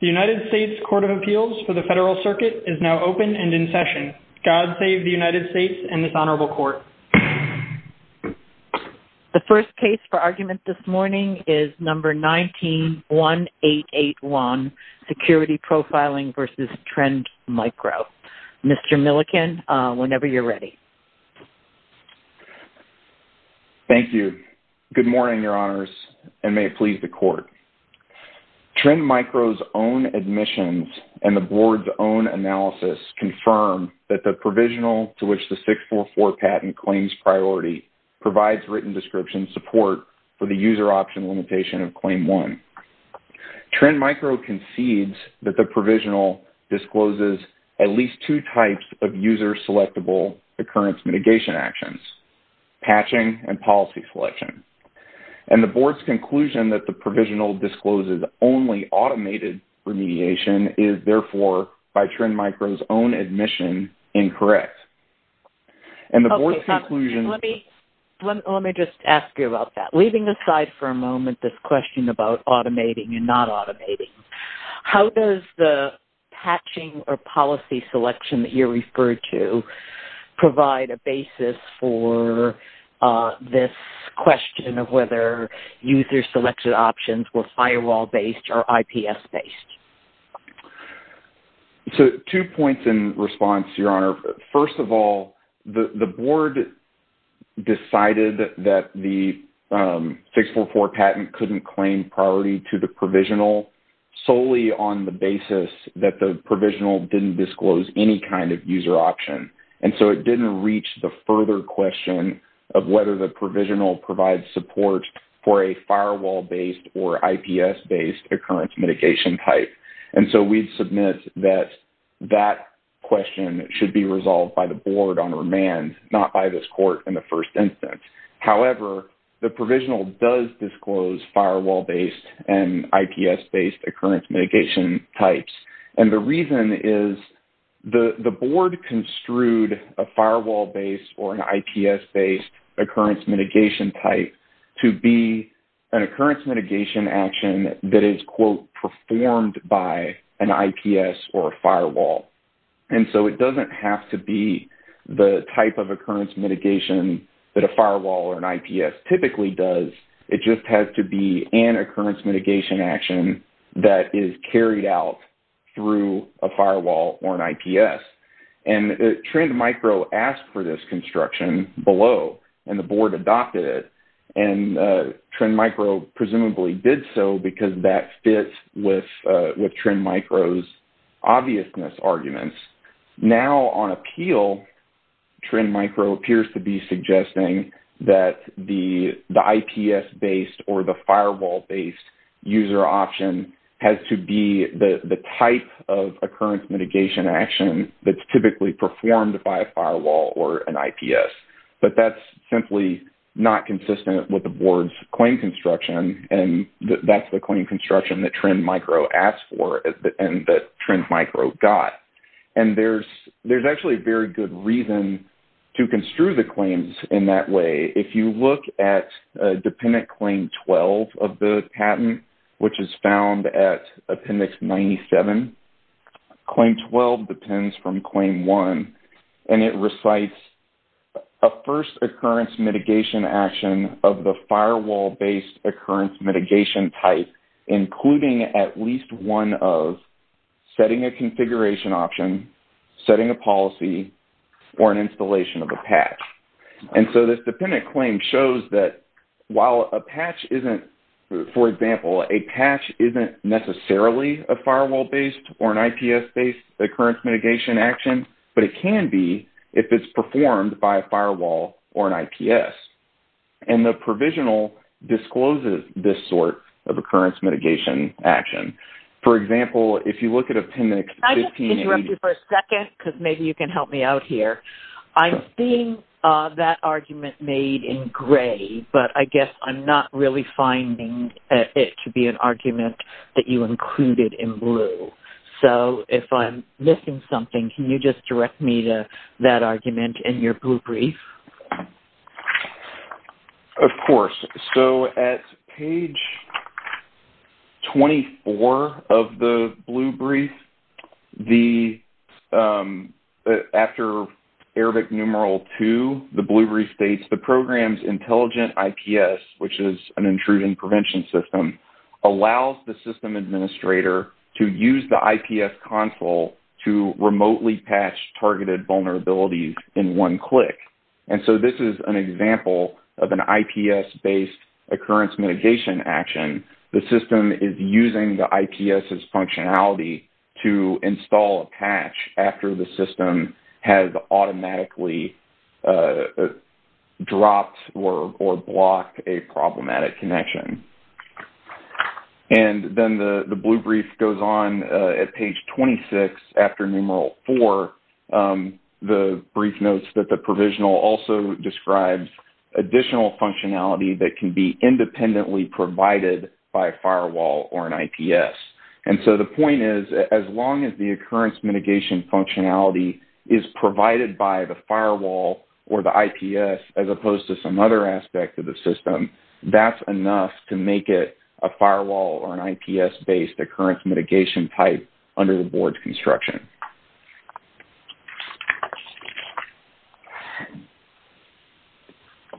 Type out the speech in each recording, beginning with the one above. The United States Court of Appeals for the Federal Circuit is now open and in session. God save the United States and this Honorable Court. The first case for argument this morning is number 191881, Security Profiling v. Trend Micro. Mr. Milliken, whenever you're ready. Thank you. Good morning, Your Honors, and may it please the Court. Trend Micro's own admissions and the Board's own analysis confirm that the provisional to which the 644 patent claims priority provides written description support for the user option limitation of Claim 1. Trend Micro concedes that the provisional discloses at least two types of user-selectable occurrence mitigation actions, patching and policy selection. And the Board's conclusion that the provisional discloses only automated remediation is, therefore, by Trend Micro's own admission, incorrect. Let me just ask you about that. Leaving aside for a moment this question about automating and not automating, how does the patching or policy selection that you referred to provide a basis for this question of whether user-selected options were firewall-based or IPS-based? Two points in response, Your Honor. First of all, the Board decided that the 644 patent couldn't claim priority to the provisional solely on the basis that the provisional didn't disclose any kind of user option. And so it didn't reach the further question of whether the provisional provides support for a firewall-based or IPS-based occurrence mitigation type. And so we submit that that question should be resolved by the Board on remand, not by this Court in the first instance. However, the provisional does disclose firewall-based and IPS-based occurrence mitigation types. And the reason is the Board construed a firewall-based or an IPS-based occurrence mitigation type to be an occurrence mitigation action that is, quote, performed by an IPS or a firewall. And so it doesn't have to be the type of occurrence mitigation that a firewall or an IPS typically does. It just has to be an occurrence mitigation action that is carried out through a firewall or an IPS. And Trend Micro asked for this construction below, and the Board adopted it. And Trend Micro presumably did so because that fits with Trend Micro's obviousness arguments. Now on appeal, Trend Micro appears to be suggesting that the IPS-based or the firewall-based user option has to be the type of occurrence mitigation action that's typically performed by a firewall or an IPS. But that's simply not consistent with the Board's claim construction, and that's the claim construction that Trend Micro asked for and that Trend Micro got. And there's actually a very good reason to construe the claims in that way. If you look at Dependent Claim 12 of the patent, which is found at Appendix 97, Claim 12 depends from Claim 1. And it recites a first occurrence mitigation action of the firewall-based occurrence mitigation type, including at least one of setting a configuration option, setting a policy, or an installation of a patch. And so this Dependent Claim shows that while a patch isn't, for example, a patch isn't necessarily a firewall-based or an IPS-based occurrence mitigation action, but it can be if it's performed by a firewall or an IPS. And the provisional discloses this sort of occurrence mitigation action. For example, if you look at Appendix 15- Can I just interrupt you for a second because maybe you can help me out here? I'm seeing that argument made in gray, but I guess I'm not really finding it to be an argument that you included in blue. So if I'm missing something, can you just direct me to that argument in your blue brief? Of course. So at page 24 of the blue brief, after Arabic numeral 2, the blue brief states, the program's intelligent IPS, which is an intrusion prevention system, allows the system administrator to use the IPS console to remotely patch targeted vulnerabilities in one click. And so this is an example of an IPS-based occurrence mitigation action. The system is using the IPS's functionality to install a patch after the system has automatically dropped or blocked a problematic connection. And then the blue brief goes on at page 26 after numeral 4. The brief notes that the provisional also describes additional functionality that can be independently provided by a firewall or an IPS. And so the point is, as long as the occurrence mitigation functionality is provided by the firewall or the IPS as opposed to some other aspect of the system, that's enough to make it a firewall or an IPS-based occurrence mitigation type under the board's construction.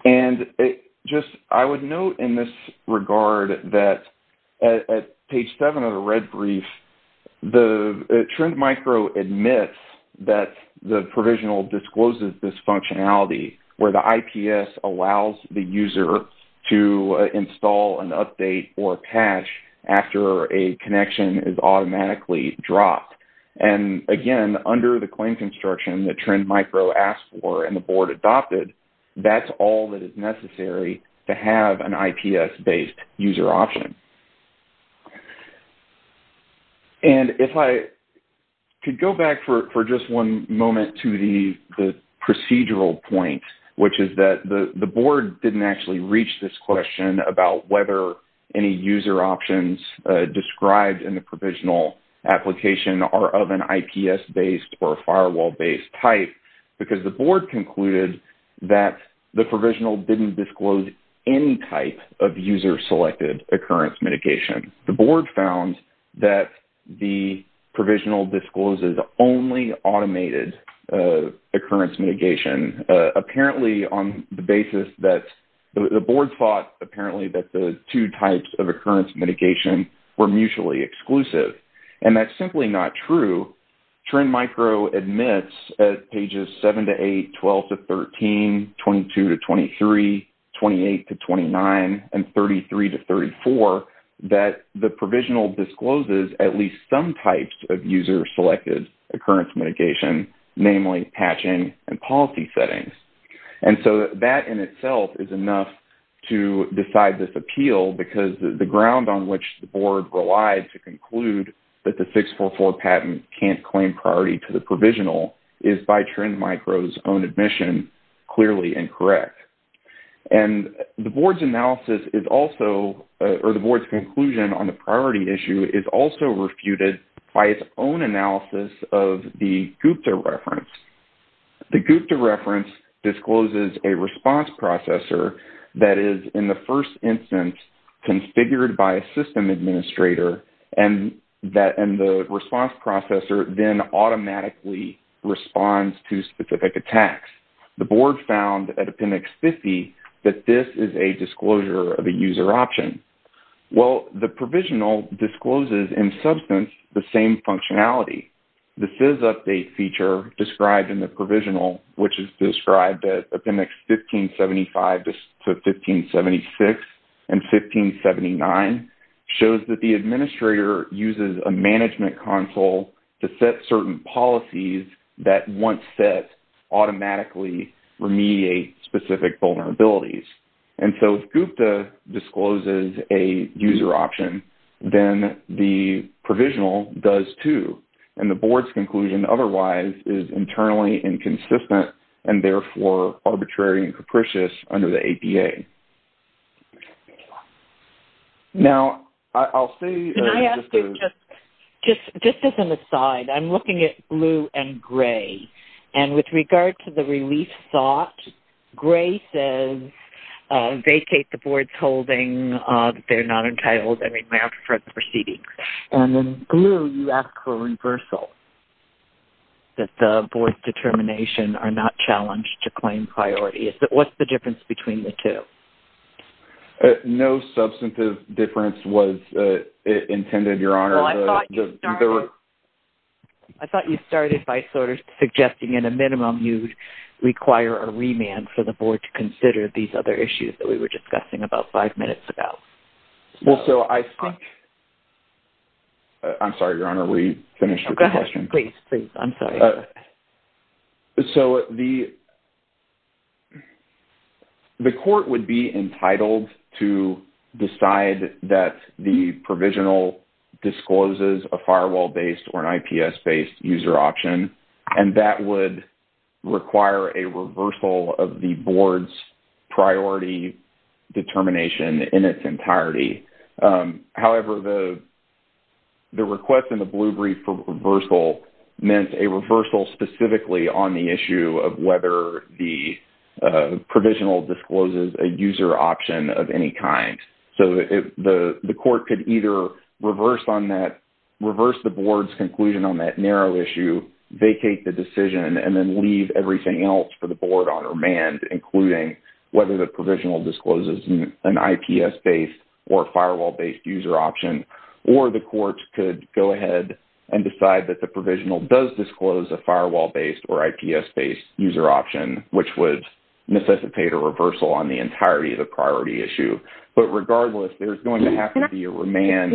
And I would note in this regard that at page 7 of the red brief, the Trend Micro admits that the provisional discloses this functionality, where the IPS allows the user to install an update or patch after a connection is automatically dropped. And again, under the claim construction that Trend Micro asked for and the board adopted, that's all that is necessary to have an IPS-based user option. And if I could go back for just one moment to the procedural point, which is that the board didn't actually reach this question about whether any user options described in the provisional application are of an IPS-based or a firewall-based type, because the board concluded that the provisional didn't disclose any type of user-selected occurrence mitigation. The board found that the provisional discloses only automated occurrence mitigation, apparently on the basis that the board thought apparently that the two types of occurrence mitigation were mutually exclusive. And that's simply not true. So, Trend Micro admits at pages 7 to 8, 12 to 13, 22 to 23, 28 to 29, and 33 to 34, that the provisional discloses at least some types of user-selected occurrence mitigation, namely patching and policy settings. And so, that in itself is enough to decide this appeal, because the ground on which the board relied to conclude that the 644 patent can't claim priority to the provisional is by Trend Micro's own admission clearly incorrect. And the board's analysis is also, or the board's conclusion on the priority issue is also refuted by its own analysis of the GUPTA reference. The GUPTA reference discloses a response processor that is, in the first instance, configured by a system administrator, and the response processor then automatically responds to specific attacks. The board found at appendix 50 that this is a disclosure of a user option. Well, the provisional discloses in substance the same functionality. The SIS update feature described in the provisional, which is described at appendix 1575 to 1576 and 1579, shows that the administrator uses a management console to set certain policies that, once set, automatically remediate specific vulnerabilities. And so, if GUPTA discloses a user option, then the provisional does, too. And the board's conclusion, otherwise, is internally inconsistent and, therefore, arbitrary and capricious under the APA. Now, I'll say... Can I ask you just as an aside, I'm looking at blue and gray. And with regard to the relief thought, gray says, vacate the board's holding. They're not entitled, I mean, for the proceedings. And then, blue, you ask for reversal, that the board's determination are not challenged to claim priority. What's the difference between the two? No substantive difference was intended, Your Honor. Well, I thought you started by sort of suggesting, in a minimum, you'd require a remand for the board to consider these other issues that we were discussing about five minutes ago. Well, so, I think... I'm sorry, Your Honor, we finished with the question. Please, please, I'm sorry. So, the court would be entitled to decide that the provisional discloses a firewall-based or an IPS-based user option. And that would require a reversal of the board's priority determination in its entirety. However, the request in the blue brief for reversal meant a reversal specifically on the issue of whether the provisional discloses a user option of any kind. So, the court could either reverse the board's conclusion on that narrow issue, vacate the decision, and then leave everything else for the board on remand, including whether the provisional discloses an IPS-based or a firewall-based user option, or the court could go ahead and decide that the provisional does disclose a firewall-based or IPS-based user option, which would necessitate a reversal on the entirety of the priority issue. But regardless, there's going to have to be a remand.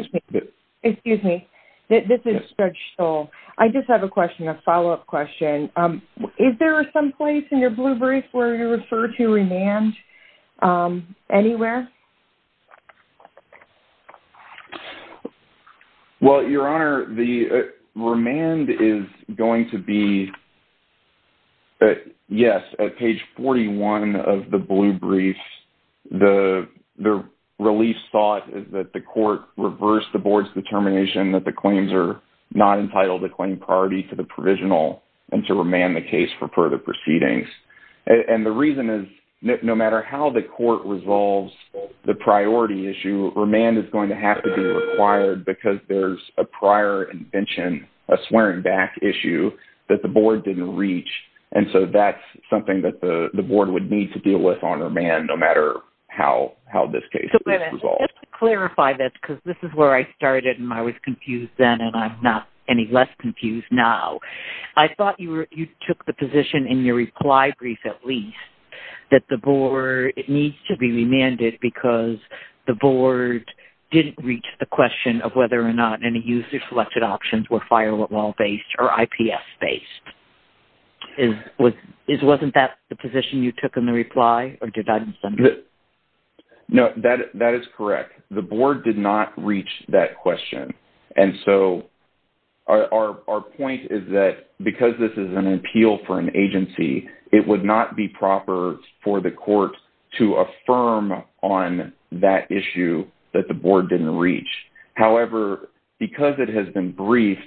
Excuse me. This is Judge Stoll. I just have a question, a follow-up question. Is there someplace in your blue brief where you refer to remand anywhere? Well, Your Honor, the remand is going to be, yes, at page 41 of the blue brief. The release thought is that the court reversed the board's determination that the claims are not entitled to claim priority to the provisional and to remand the case for further proceedings. And the reason is no matter how the court resolves the priority issue, remand is going to have to be required because there's a prior invention, a swearing back issue, that the board didn't reach. And so that's something that the board would need to deal with on remand no matter how this case is resolved. Just to clarify this, because this is where I started and I was confused then and I'm not any less confused now. I thought you took the position in your reply brief at least that the board needs to be remanded because the board didn't reach the question of whether or not any user-selected options were firewall-based or IPS-based. Wasn't that the position you took in the reply or did I misunderstand? No, that is correct. The board did not reach that question. And so our point is that because this is an appeal for an agency, it would not be proper for the court to affirm on that issue that the board didn't reach. However, because it has been briefed,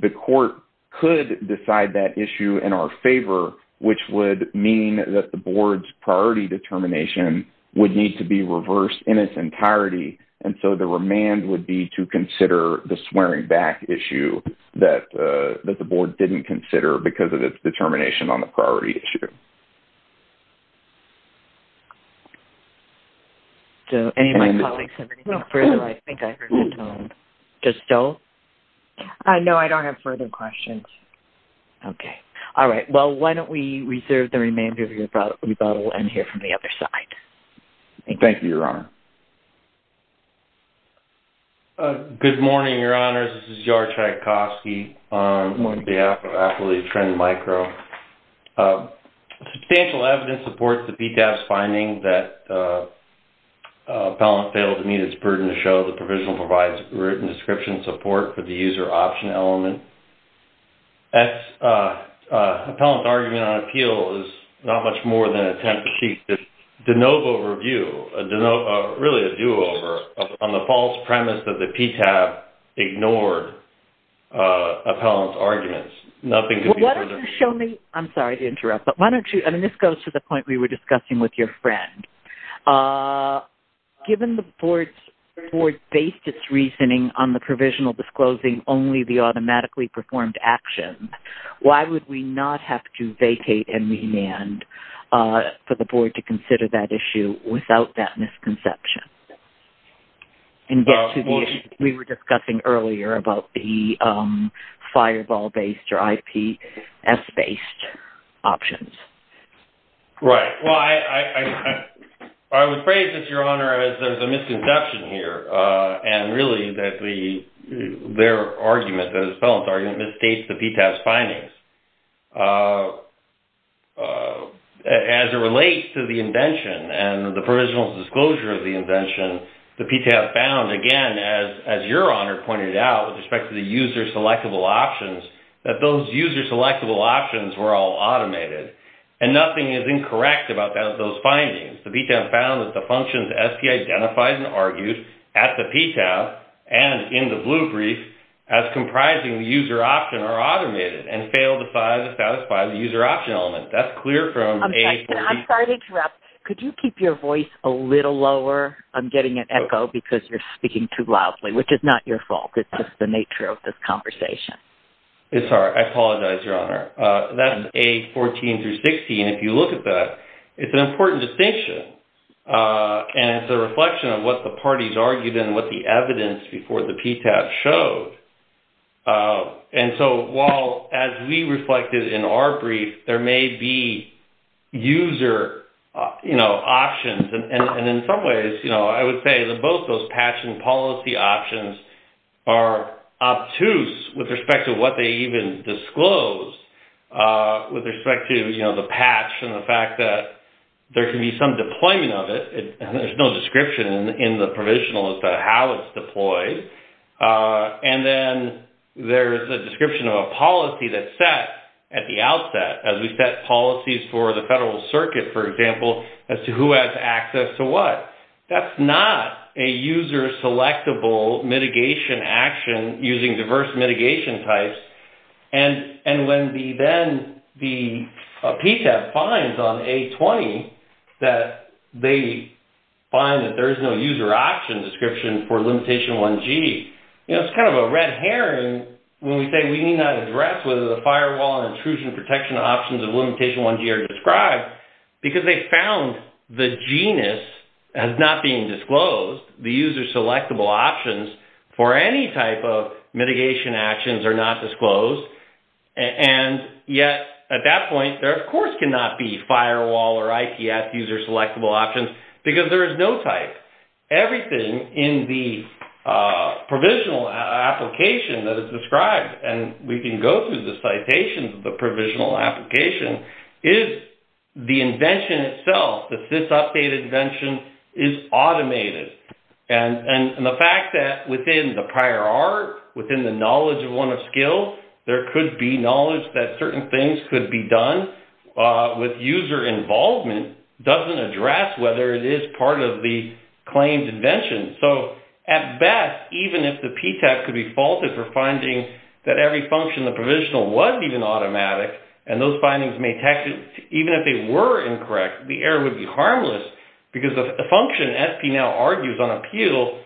the court could decide that issue in our favor, which would mean that the board's priority determination would need to be reversed in its entirety. And so the remand would be to consider the swearing back issue that the board didn't consider because of its determination on the priority issue. So any of my colleagues have anything further? I think I heard that tone. Just Joe? No, I don't have further questions. Okay. All right. Well, why don't we reserve the remainder of your rebuttal and hear from the other side. Thank you, Your Honor. Good morning, Your Honors. This is George Tchaikovsky on behalf of Affiliate Trend Micro. Substantial evidence supports the PTAB's finding that appellant failed to meet its burden to show the provisional provides written description support for the user option element. Appellant's argument on appeal is not much more than an attempt to seek a de novo review, really a do-over, on the false premise that the PTAB ignored appellant's arguments. I'm sorry to interrupt, but this goes to the point we were discussing with your friend. Given the board based its reasoning on the provisional disclosing only the automatically performed actions, why would we not have to vacate and remand for the board to consider that issue without that misconception? And that's the issue we were discussing earlier about the fireball-based or IPS-based options. Right. Well, I would phrase this, Your Honor, as a misconception here. And really, their argument, the appellant's argument, misstates the PTAB's findings. As it relates to the invention and the provisional disclosure of the invention, the PTAB found, again, as Your Honor pointed out with respect to the user-selectable options, that those user-selectable options were all automated. And nothing is incorrect about those findings. The PTAB found that the functions as he identified and argued at the PTAB and in the blue brief as comprising the user option are automated and fail to satisfy the user option element. That's clear from A14- I'm sorry to interrupt. Could you keep your voice a little lower? I'm getting an echo because you're speaking too loudly, which is not your fault. It's just the nature of this conversation. I'm sorry. I apologize, Your Honor. That's A14-16. If you look at that, it's an important distinction. And it's a reflection of what the parties argued and what the evidence before the PTAB showed. And so while as we reflected in our brief, there may be user options. And in some ways, I would say that both those patching policy options are obtuse with respect to what they even disclosed with respect to the patch and the fact that there can be some deployment of it. There's no description in the provisional as to how it's deployed. And then there's a description of a policy that's set at the outset as we set policies for the federal circuit, for example, as to who has access to what. That's not a user selectable mitigation action using diverse mitigation types. And when then the PTAB finds on A20 that they find that there is no user option description for limitation 1G, it's kind of a red herring when we say we need not address whether the firewall and intrusion protection options of limitation 1G are described because they found the genus has not been disclosed, the user selectable options for any type of mitigation actions are not disclosed. And yet at that point, there of course cannot be firewall or IPS user selectable options because there is no type. Everything in the provisional application that is described, and we can go through the citations of the provisional application, is the invention itself. The SysUpdate invention is automated. And the fact that within the prior art, within the knowledge of one of skills, there could be knowledge that certain things could be done with user involvement doesn't address whether it is part of the claimed invention. So at best, even if the PTAB could be faulted for finding that every function in the provisional wasn't even automatic and those findings may, even if they were incorrect, the error would be harmless because the function SP now argues on appeal,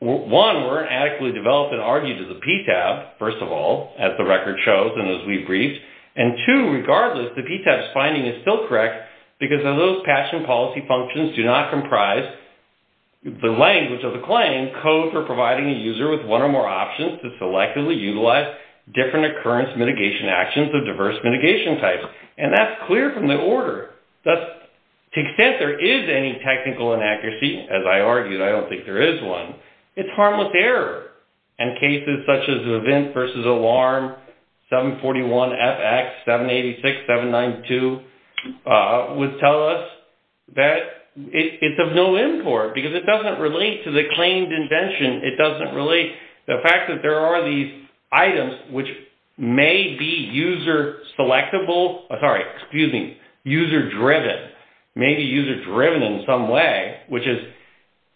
one, weren't adequately developed and argued to the PTAB, first of all, as the record shows and as we briefed. And two, regardless, the PTAB's finding is still correct because of those passion policy functions do not comprise the language of the claim code for providing a user with one or more options to selectively utilize different occurrence mitigation actions of diverse mitigation types. And that's clear from the order. To the extent there is any technical inaccuracy, as I argued, I don't think there is one, it's harmless error. And cases such as event versus alarm, 741FX, 786, 792, would tell us that it's of no import because it doesn't relate to the claimed invention. The fact that there are these items which may be user-selectable, sorry, excuse me, user-driven, may be user-driven in some way, which is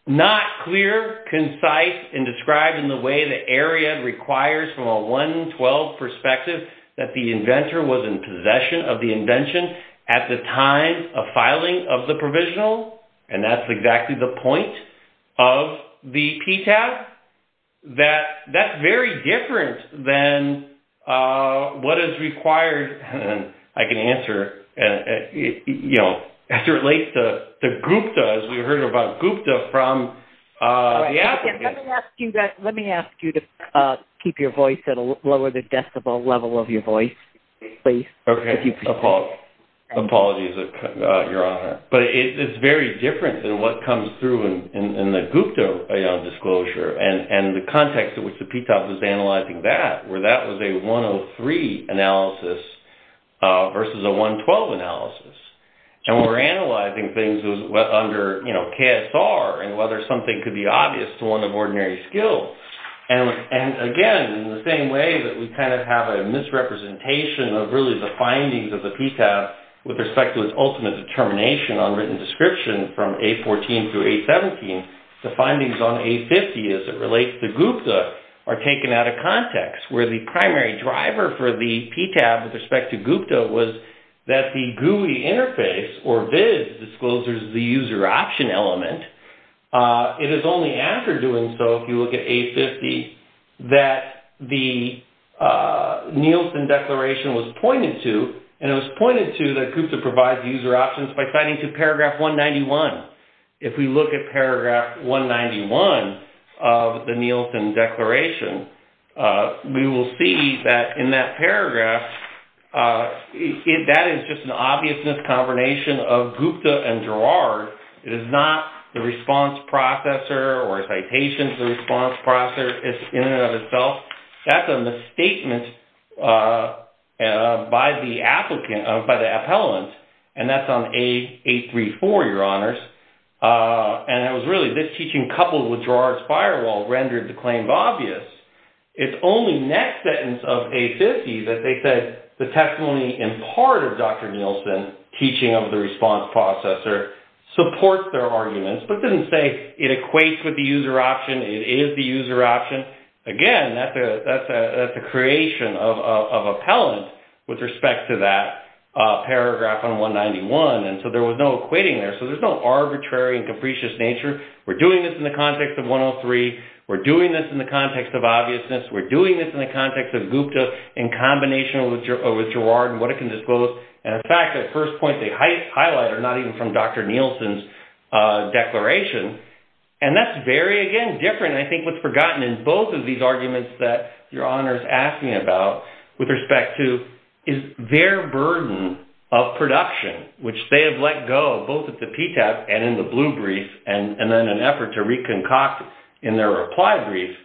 not clear, concise, and described in the way the area requires from a 112 perspective that the inventor was in possession of the invention at the time of filing of the provisional. And that's exactly the point of the PTAB. That's very different than what is required, I can answer, you know, as it relates to GUPTA, as we heard about GUPTA from the applicant. Let me ask you to keep your voice at a lower decibel level of your voice, please. Okay. Apologies, Your Honor. But it's very different than what comes through in the GUPTA disclosure, and the context in which the PTAB is analyzing that, where that was a 103 analysis versus a 112 analysis. And we're analyzing things under, you know, KSR, and whether something could be obvious to one of ordinary skill. And again, in the same way that we kind of have a misrepresentation of really the findings of the PTAB with respect to its ultimate determination on written description from A14 through A17, the findings on A50 as it relates to GUPTA are taken out of context. Where the primary driver for the PTAB with respect to GUPTA was that the GUI interface, or VIZ, discloses the user option element. It is only after doing so, if you look at A50, that the Nielsen Declaration was pointed to, and it was pointed to that GUPTA provides user options by signing to paragraph 191. If we look at paragraph 191 of the Nielsen Declaration, we will see that in that paragraph, that is just an obvious miscombination of GUPTA and GERARD. It is not the response processor or a citation to the response processor in and of itself. That is a misstatement by the appellant, and that is on A34, Your Honors. And it was really this teaching coupled with GERARD's firewall rendered the claim obvious. It is only next sentence of A50 that they said the testimony in part of Dr. Nielsen's teaching of the response processor supports their arguments. This doesn't say it equates with the user option. It is the user option. Again, that is a creation of appellant with respect to that paragraph on 191, and so there was no equating there. There is no arbitrary and capricious nature. We are doing this in the context of 103. We are doing this in the context of obviousness. We are doing this in the context of GUPTA in combination with GERARD and what it can disclose. In fact, the first point they highlight are not even from Dr. Nielsen's declaration, and that is very, again, different. I think what is forgotten in both of these arguments that Your Honors asked me about with respect to is their burden of production, which they have let go both at the PTAP and in the blue brief and then an effort to reconcoct in their reply brief,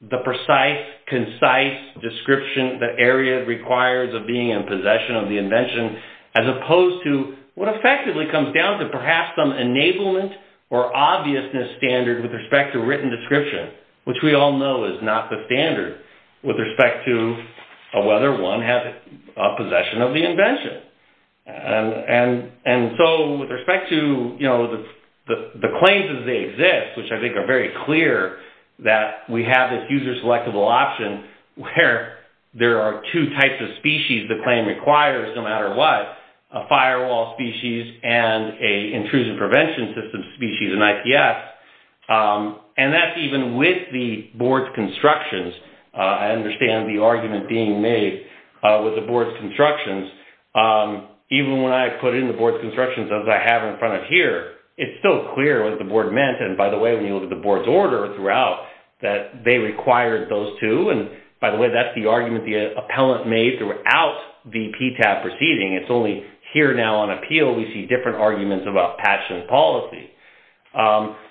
the precise, concise description that AREAD requires of being in possession of the invention, as opposed to what effectively comes down to perhaps some enablement or obviousness standard with respect to written description, which we all know is not the standard with respect to whether one has a possession of the invention. With respect to the claims as they exist, which I think are very clear that we have this user-selectable option where there are two types of species the claim requires no matter what, a firewall species and an intrusive prevention system species in IPS, and that is even with the board's constructions. I understand the argument being made with the board's constructions. Even when I put in the board's constructions as I have in front of here, it's still clear what the board meant. And by the way, when you look at the board's order throughout, that they required those two. And by the way, that's the argument the appellant made throughout the PTAP proceeding. It's only here now on appeal we see different arguments about passion policy.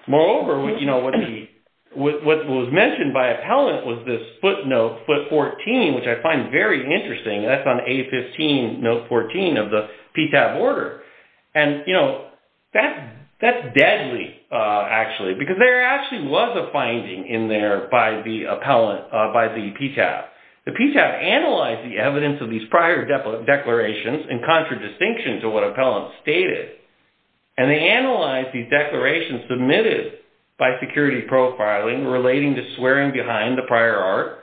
Moreover, what was mentioned by appellant was this footnote, foot 14, which I find very interesting. That's on A15, note 14 of the PTAP order. That's deadly, actually, because there actually was a finding in there by the appellant, by the PTAP. The PTAP analyzed the evidence of these prior declarations in contradistinction to what appellant stated. And they analyzed these declarations submitted by security profiling relating to swearing behind the prior art.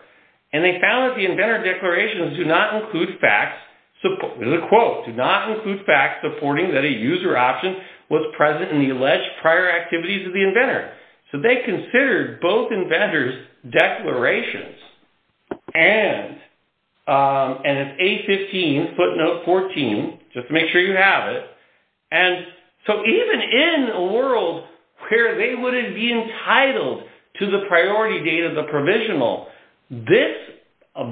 And they found that the inventor declarations do not include facts, there's a quote, do not include facts supporting that a user option was present in the alleged prior activities of the inventor. So they considered both inventor's declarations and an A15 footnote 14, just to make sure you have it, and so even in a world where they wouldn't be entitled to the priority date of the provisional, this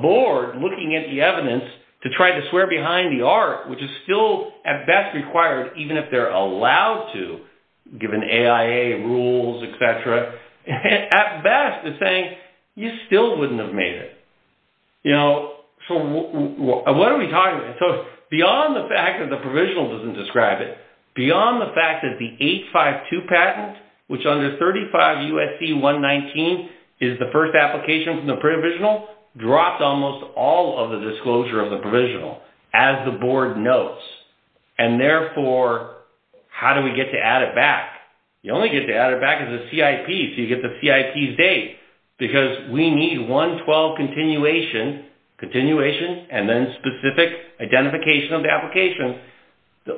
board looking at the evidence to try to swear behind the art, which is still at best required even if they're allowed to, given AIA rules, et cetera, at best is saying you still wouldn't have made it. So what are we talking about? So beyond the fact that the provisional doesn't describe it, beyond the fact that the 852 patent, which under 35 U.S.C. 119 is the first application from the provisional, drops almost all of the disclosure of the provisional, as the board notes. And therefore, how do we get to add it back? You only get to add it back as a CIP, so you get the CIP's date, because we need 112 continuation, continuation and then specific identification of the application.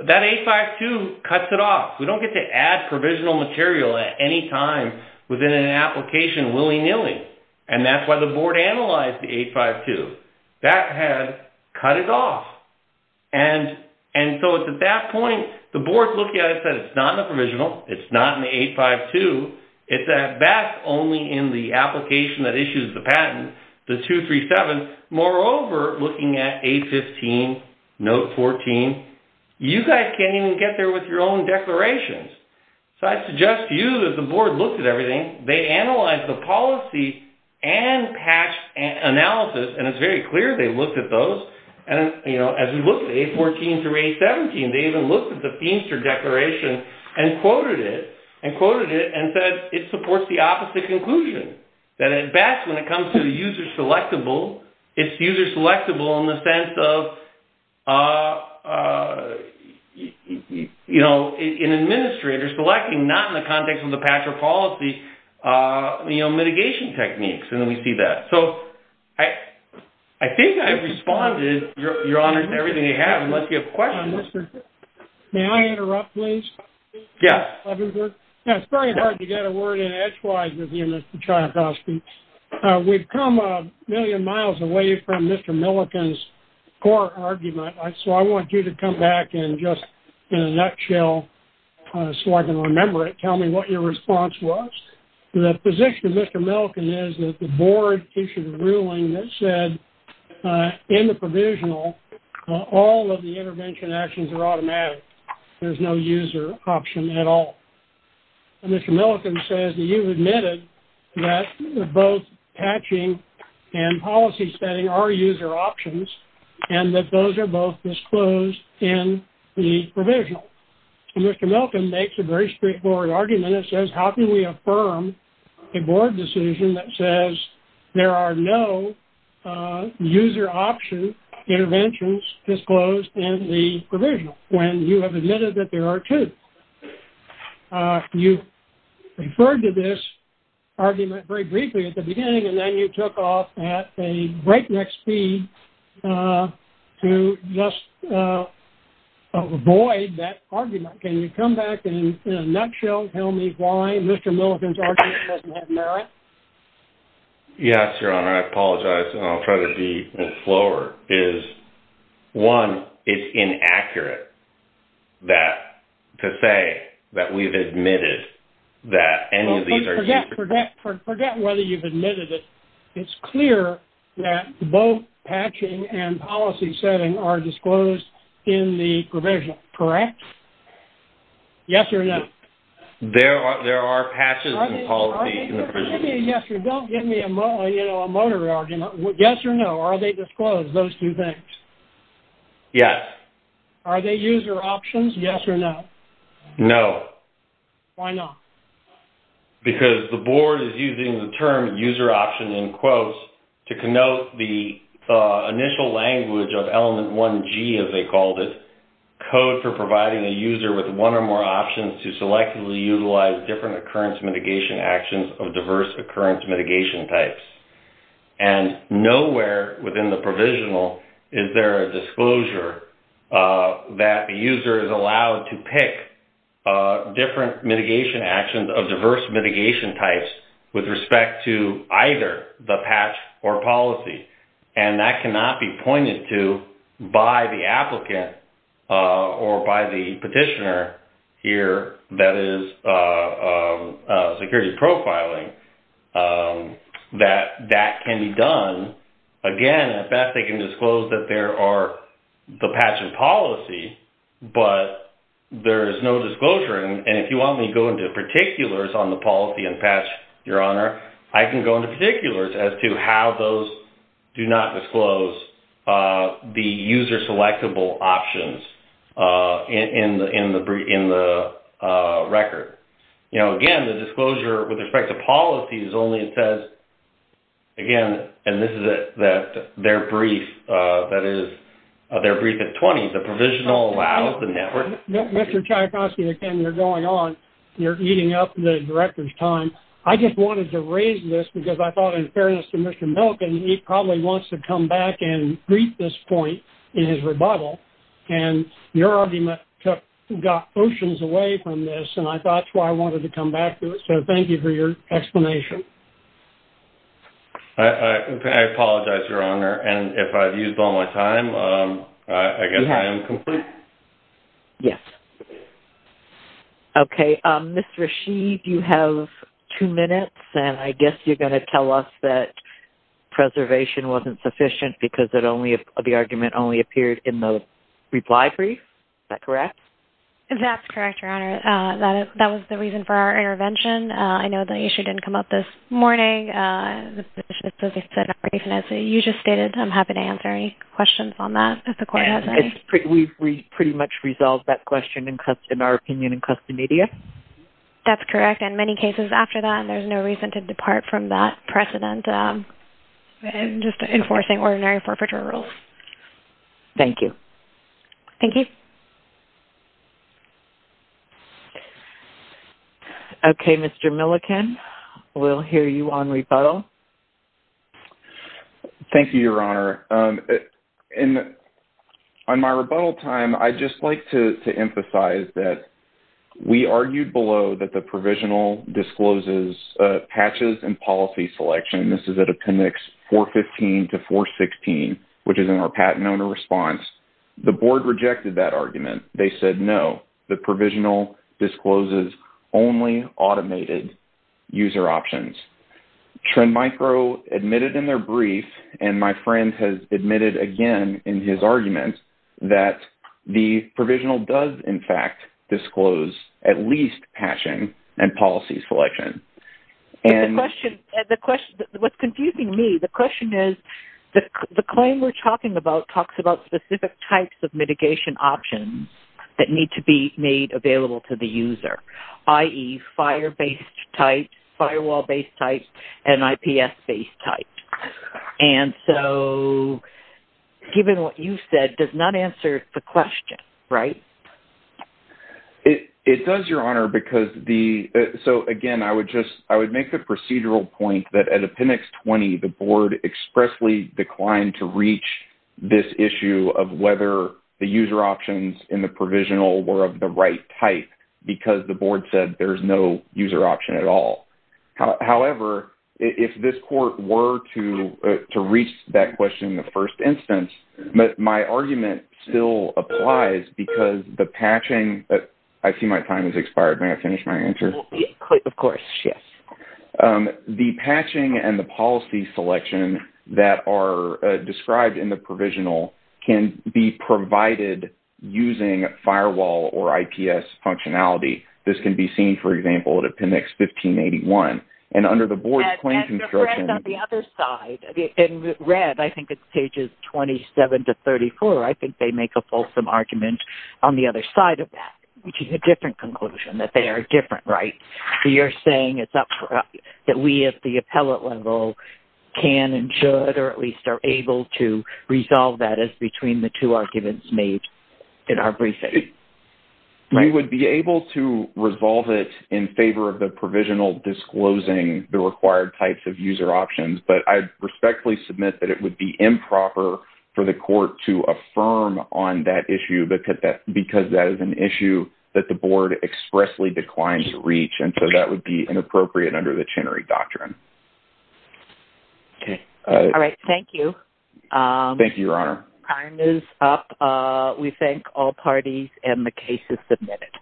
That 852 cuts it off. We don't get to add provisional material at any time within an application willy-nilly. And that's why the board analyzed the 852. That had cut it off. And so it's at that point, the board looking at it said it's not in the provisional, it's not in the 852, it's at best only in the application that issues the patent, the 237. Moreover, looking at 815, note 14, you guys can't even get there with your own declarations. So I suggest to you that the board looked at everything. They analyzed the policy and patched analysis, and it's very clear they looked at those. And as we look at 814 through 817, they even looked at the Feinster Declaration and quoted it, and said it supports the opposite conclusion. That at best when it comes to the user selectable, it's user selectable in the sense of, you know, an administrator selecting not in the context of the patch or policy, you know, mitigation techniques. And then we see that. So I think I've responded, Your Honors, to everything you have, unless you have questions. May I interrupt, please? Yes. It's very hard to get a word in edgewise with you, Mr. Tchaikovsky. We've come a million miles away from Mr. Milliken's core argument, so I want you to come back and just in a nutshell, so I can remember it, tell me what your response was. The position of Mr. Milliken is that the board issued a ruling that said in the provisional, all of the intervention actions are automatic. There's no user option at all. And Mr. Milliken says that you've admitted that both patching and policy setting are user options and that those are both disclosed in the provisional. And Mr. Milliken makes a very straightforward argument and says, how can we affirm a board decision that says there are no user option interventions disclosed in the provisional, when you have admitted that there are two? You referred to this argument very briefly at the beginning, and then you took off at a breakneck speed to just avoid that argument. Can you come back and in a nutshell tell me why Mr. Milliken's argument doesn't have merit? Yes, Your Honor. I apologize. I'll try to be slower. One, it's inaccurate to say that we've admitted that any of these are user options. Forget whether you've admitted it. It's clear that both patching and policy setting are disclosed in the provisional, correct? Yes or no? There are patches and policy in the provisional. Don't give me a motor argument. Yes or no? Are they disclosed, those two things? Yes. Are they user options, yes or no? No. Why not? Because the board is using the term user option in quotes to connote the initial language of Element 1G, as they called it, code for providing a user with one or more options to selectively utilize different occurrence mitigation actions of diverse occurrence mitigation types. And nowhere within the provisional is there a disclosure that the user is allowed to pick different mitigation actions of diverse mitigation types with respect to either the patch or policy. And that cannot be pointed to by the applicant or by the petitioner here that is security profiling that that can be done. Again, at best they can disclose that there are the patch and policy, but there is no disclosure. And if you want me to go into particulars on the policy and patch, Your Honor, I can go into particulars as to how those do not disclose the user selectable options in the record. You know, again, the disclosure with respect to policies only says, again, and this is at their brief, that is their brief at 20, the provisional allows the network. Mr. Tchaikovsky, again, you're going on. You're eating up the Director's time. I just wanted to raise this because I thought in fairness to Mr. Milken, he probably wants to come back and greet this point in his rebuttal. And your argument got oceans away from this, and I thought that's why I wanted to come back to it. So thank you for your explanation. I apologize, Your Honor. And if I've used all my time, I guess I am complete? Yes. Okay. Ms. Rasheed, you have two minutes, and I guess you're going to tell us that preservation wasn't sufficient because the argument only appeared in the reply brief. Is that correct? That's correct, Your Honor. That was the reason for our intervention. I know the issue didn't come up this morning. As you just stated, I'm happy to answer any questions on that if the Court has any. We pretty much resolved that question in our opinion in custom media. That's correct. In many cases after that, there's no reason to depart from that precedent in just enforcing ordinary forfeiture rules. Thank you. Thank you. Okay. Mr. Milliken, we'll hear you on rebuttal. Thank you, Your Honor. In my rebuttal time, I'd just like to emphasize that we argued below that the provisional discloses patches and policy selection. This is at Appendix 415 to 416, which is in our patent owner response. The Board rejected that argument. They said no. The provisional discloses only automated user options. Trend Micro admitted in their brief, and my friend has admitted again in his argument, that the provisional does, in fact, disclose at least patching and policy selection. What's confusing me, the question is, the claim we're talking about talks about specific types of mitigation options that need to be made available to the user, i.e., fire-based type, firewall-based type, and IPS-based type. And so, given what you said, it does not answer the question, right? It does, Your Honor. So, again, I would make the procedural point that at Appendix 20, the Board expressly declined to reach this issue of whether the user options in the provisional were of the right type because the Board said there's no user option at all. However, if this court were to reach that question in the first instance, my argument still applies because the patching, I see my time has expired. May I finish my answer? Of course, yes. The patching and the policy selection that are described in the provisional can be provided using firewall or IPS functionality. This can be seen, for example, at Appendix 1581. And under the Board's claim construction... And on the other side, in red, I think it's pages 27 to 34, I think they make a fulsome argument on the other side of that, which is a different conclusion, that they are different, right? So you're saying it's up for us, that we at the appellate level can and should or at least are able to resolve that as between the two arguments made in our briefing, right? We would be able to resolve it in favor of the provisional disclosing the required types of user options, but I respectfully submit that it would be improper for the court to affirm on that issue because that is an issue that the Board expressly declines to reach, and so that would be inappropriate under the Chenery Doctrine. Okay. All right. Thank you. Thank you, Your Honor. Time is up. We thank all parties and the case is submitted.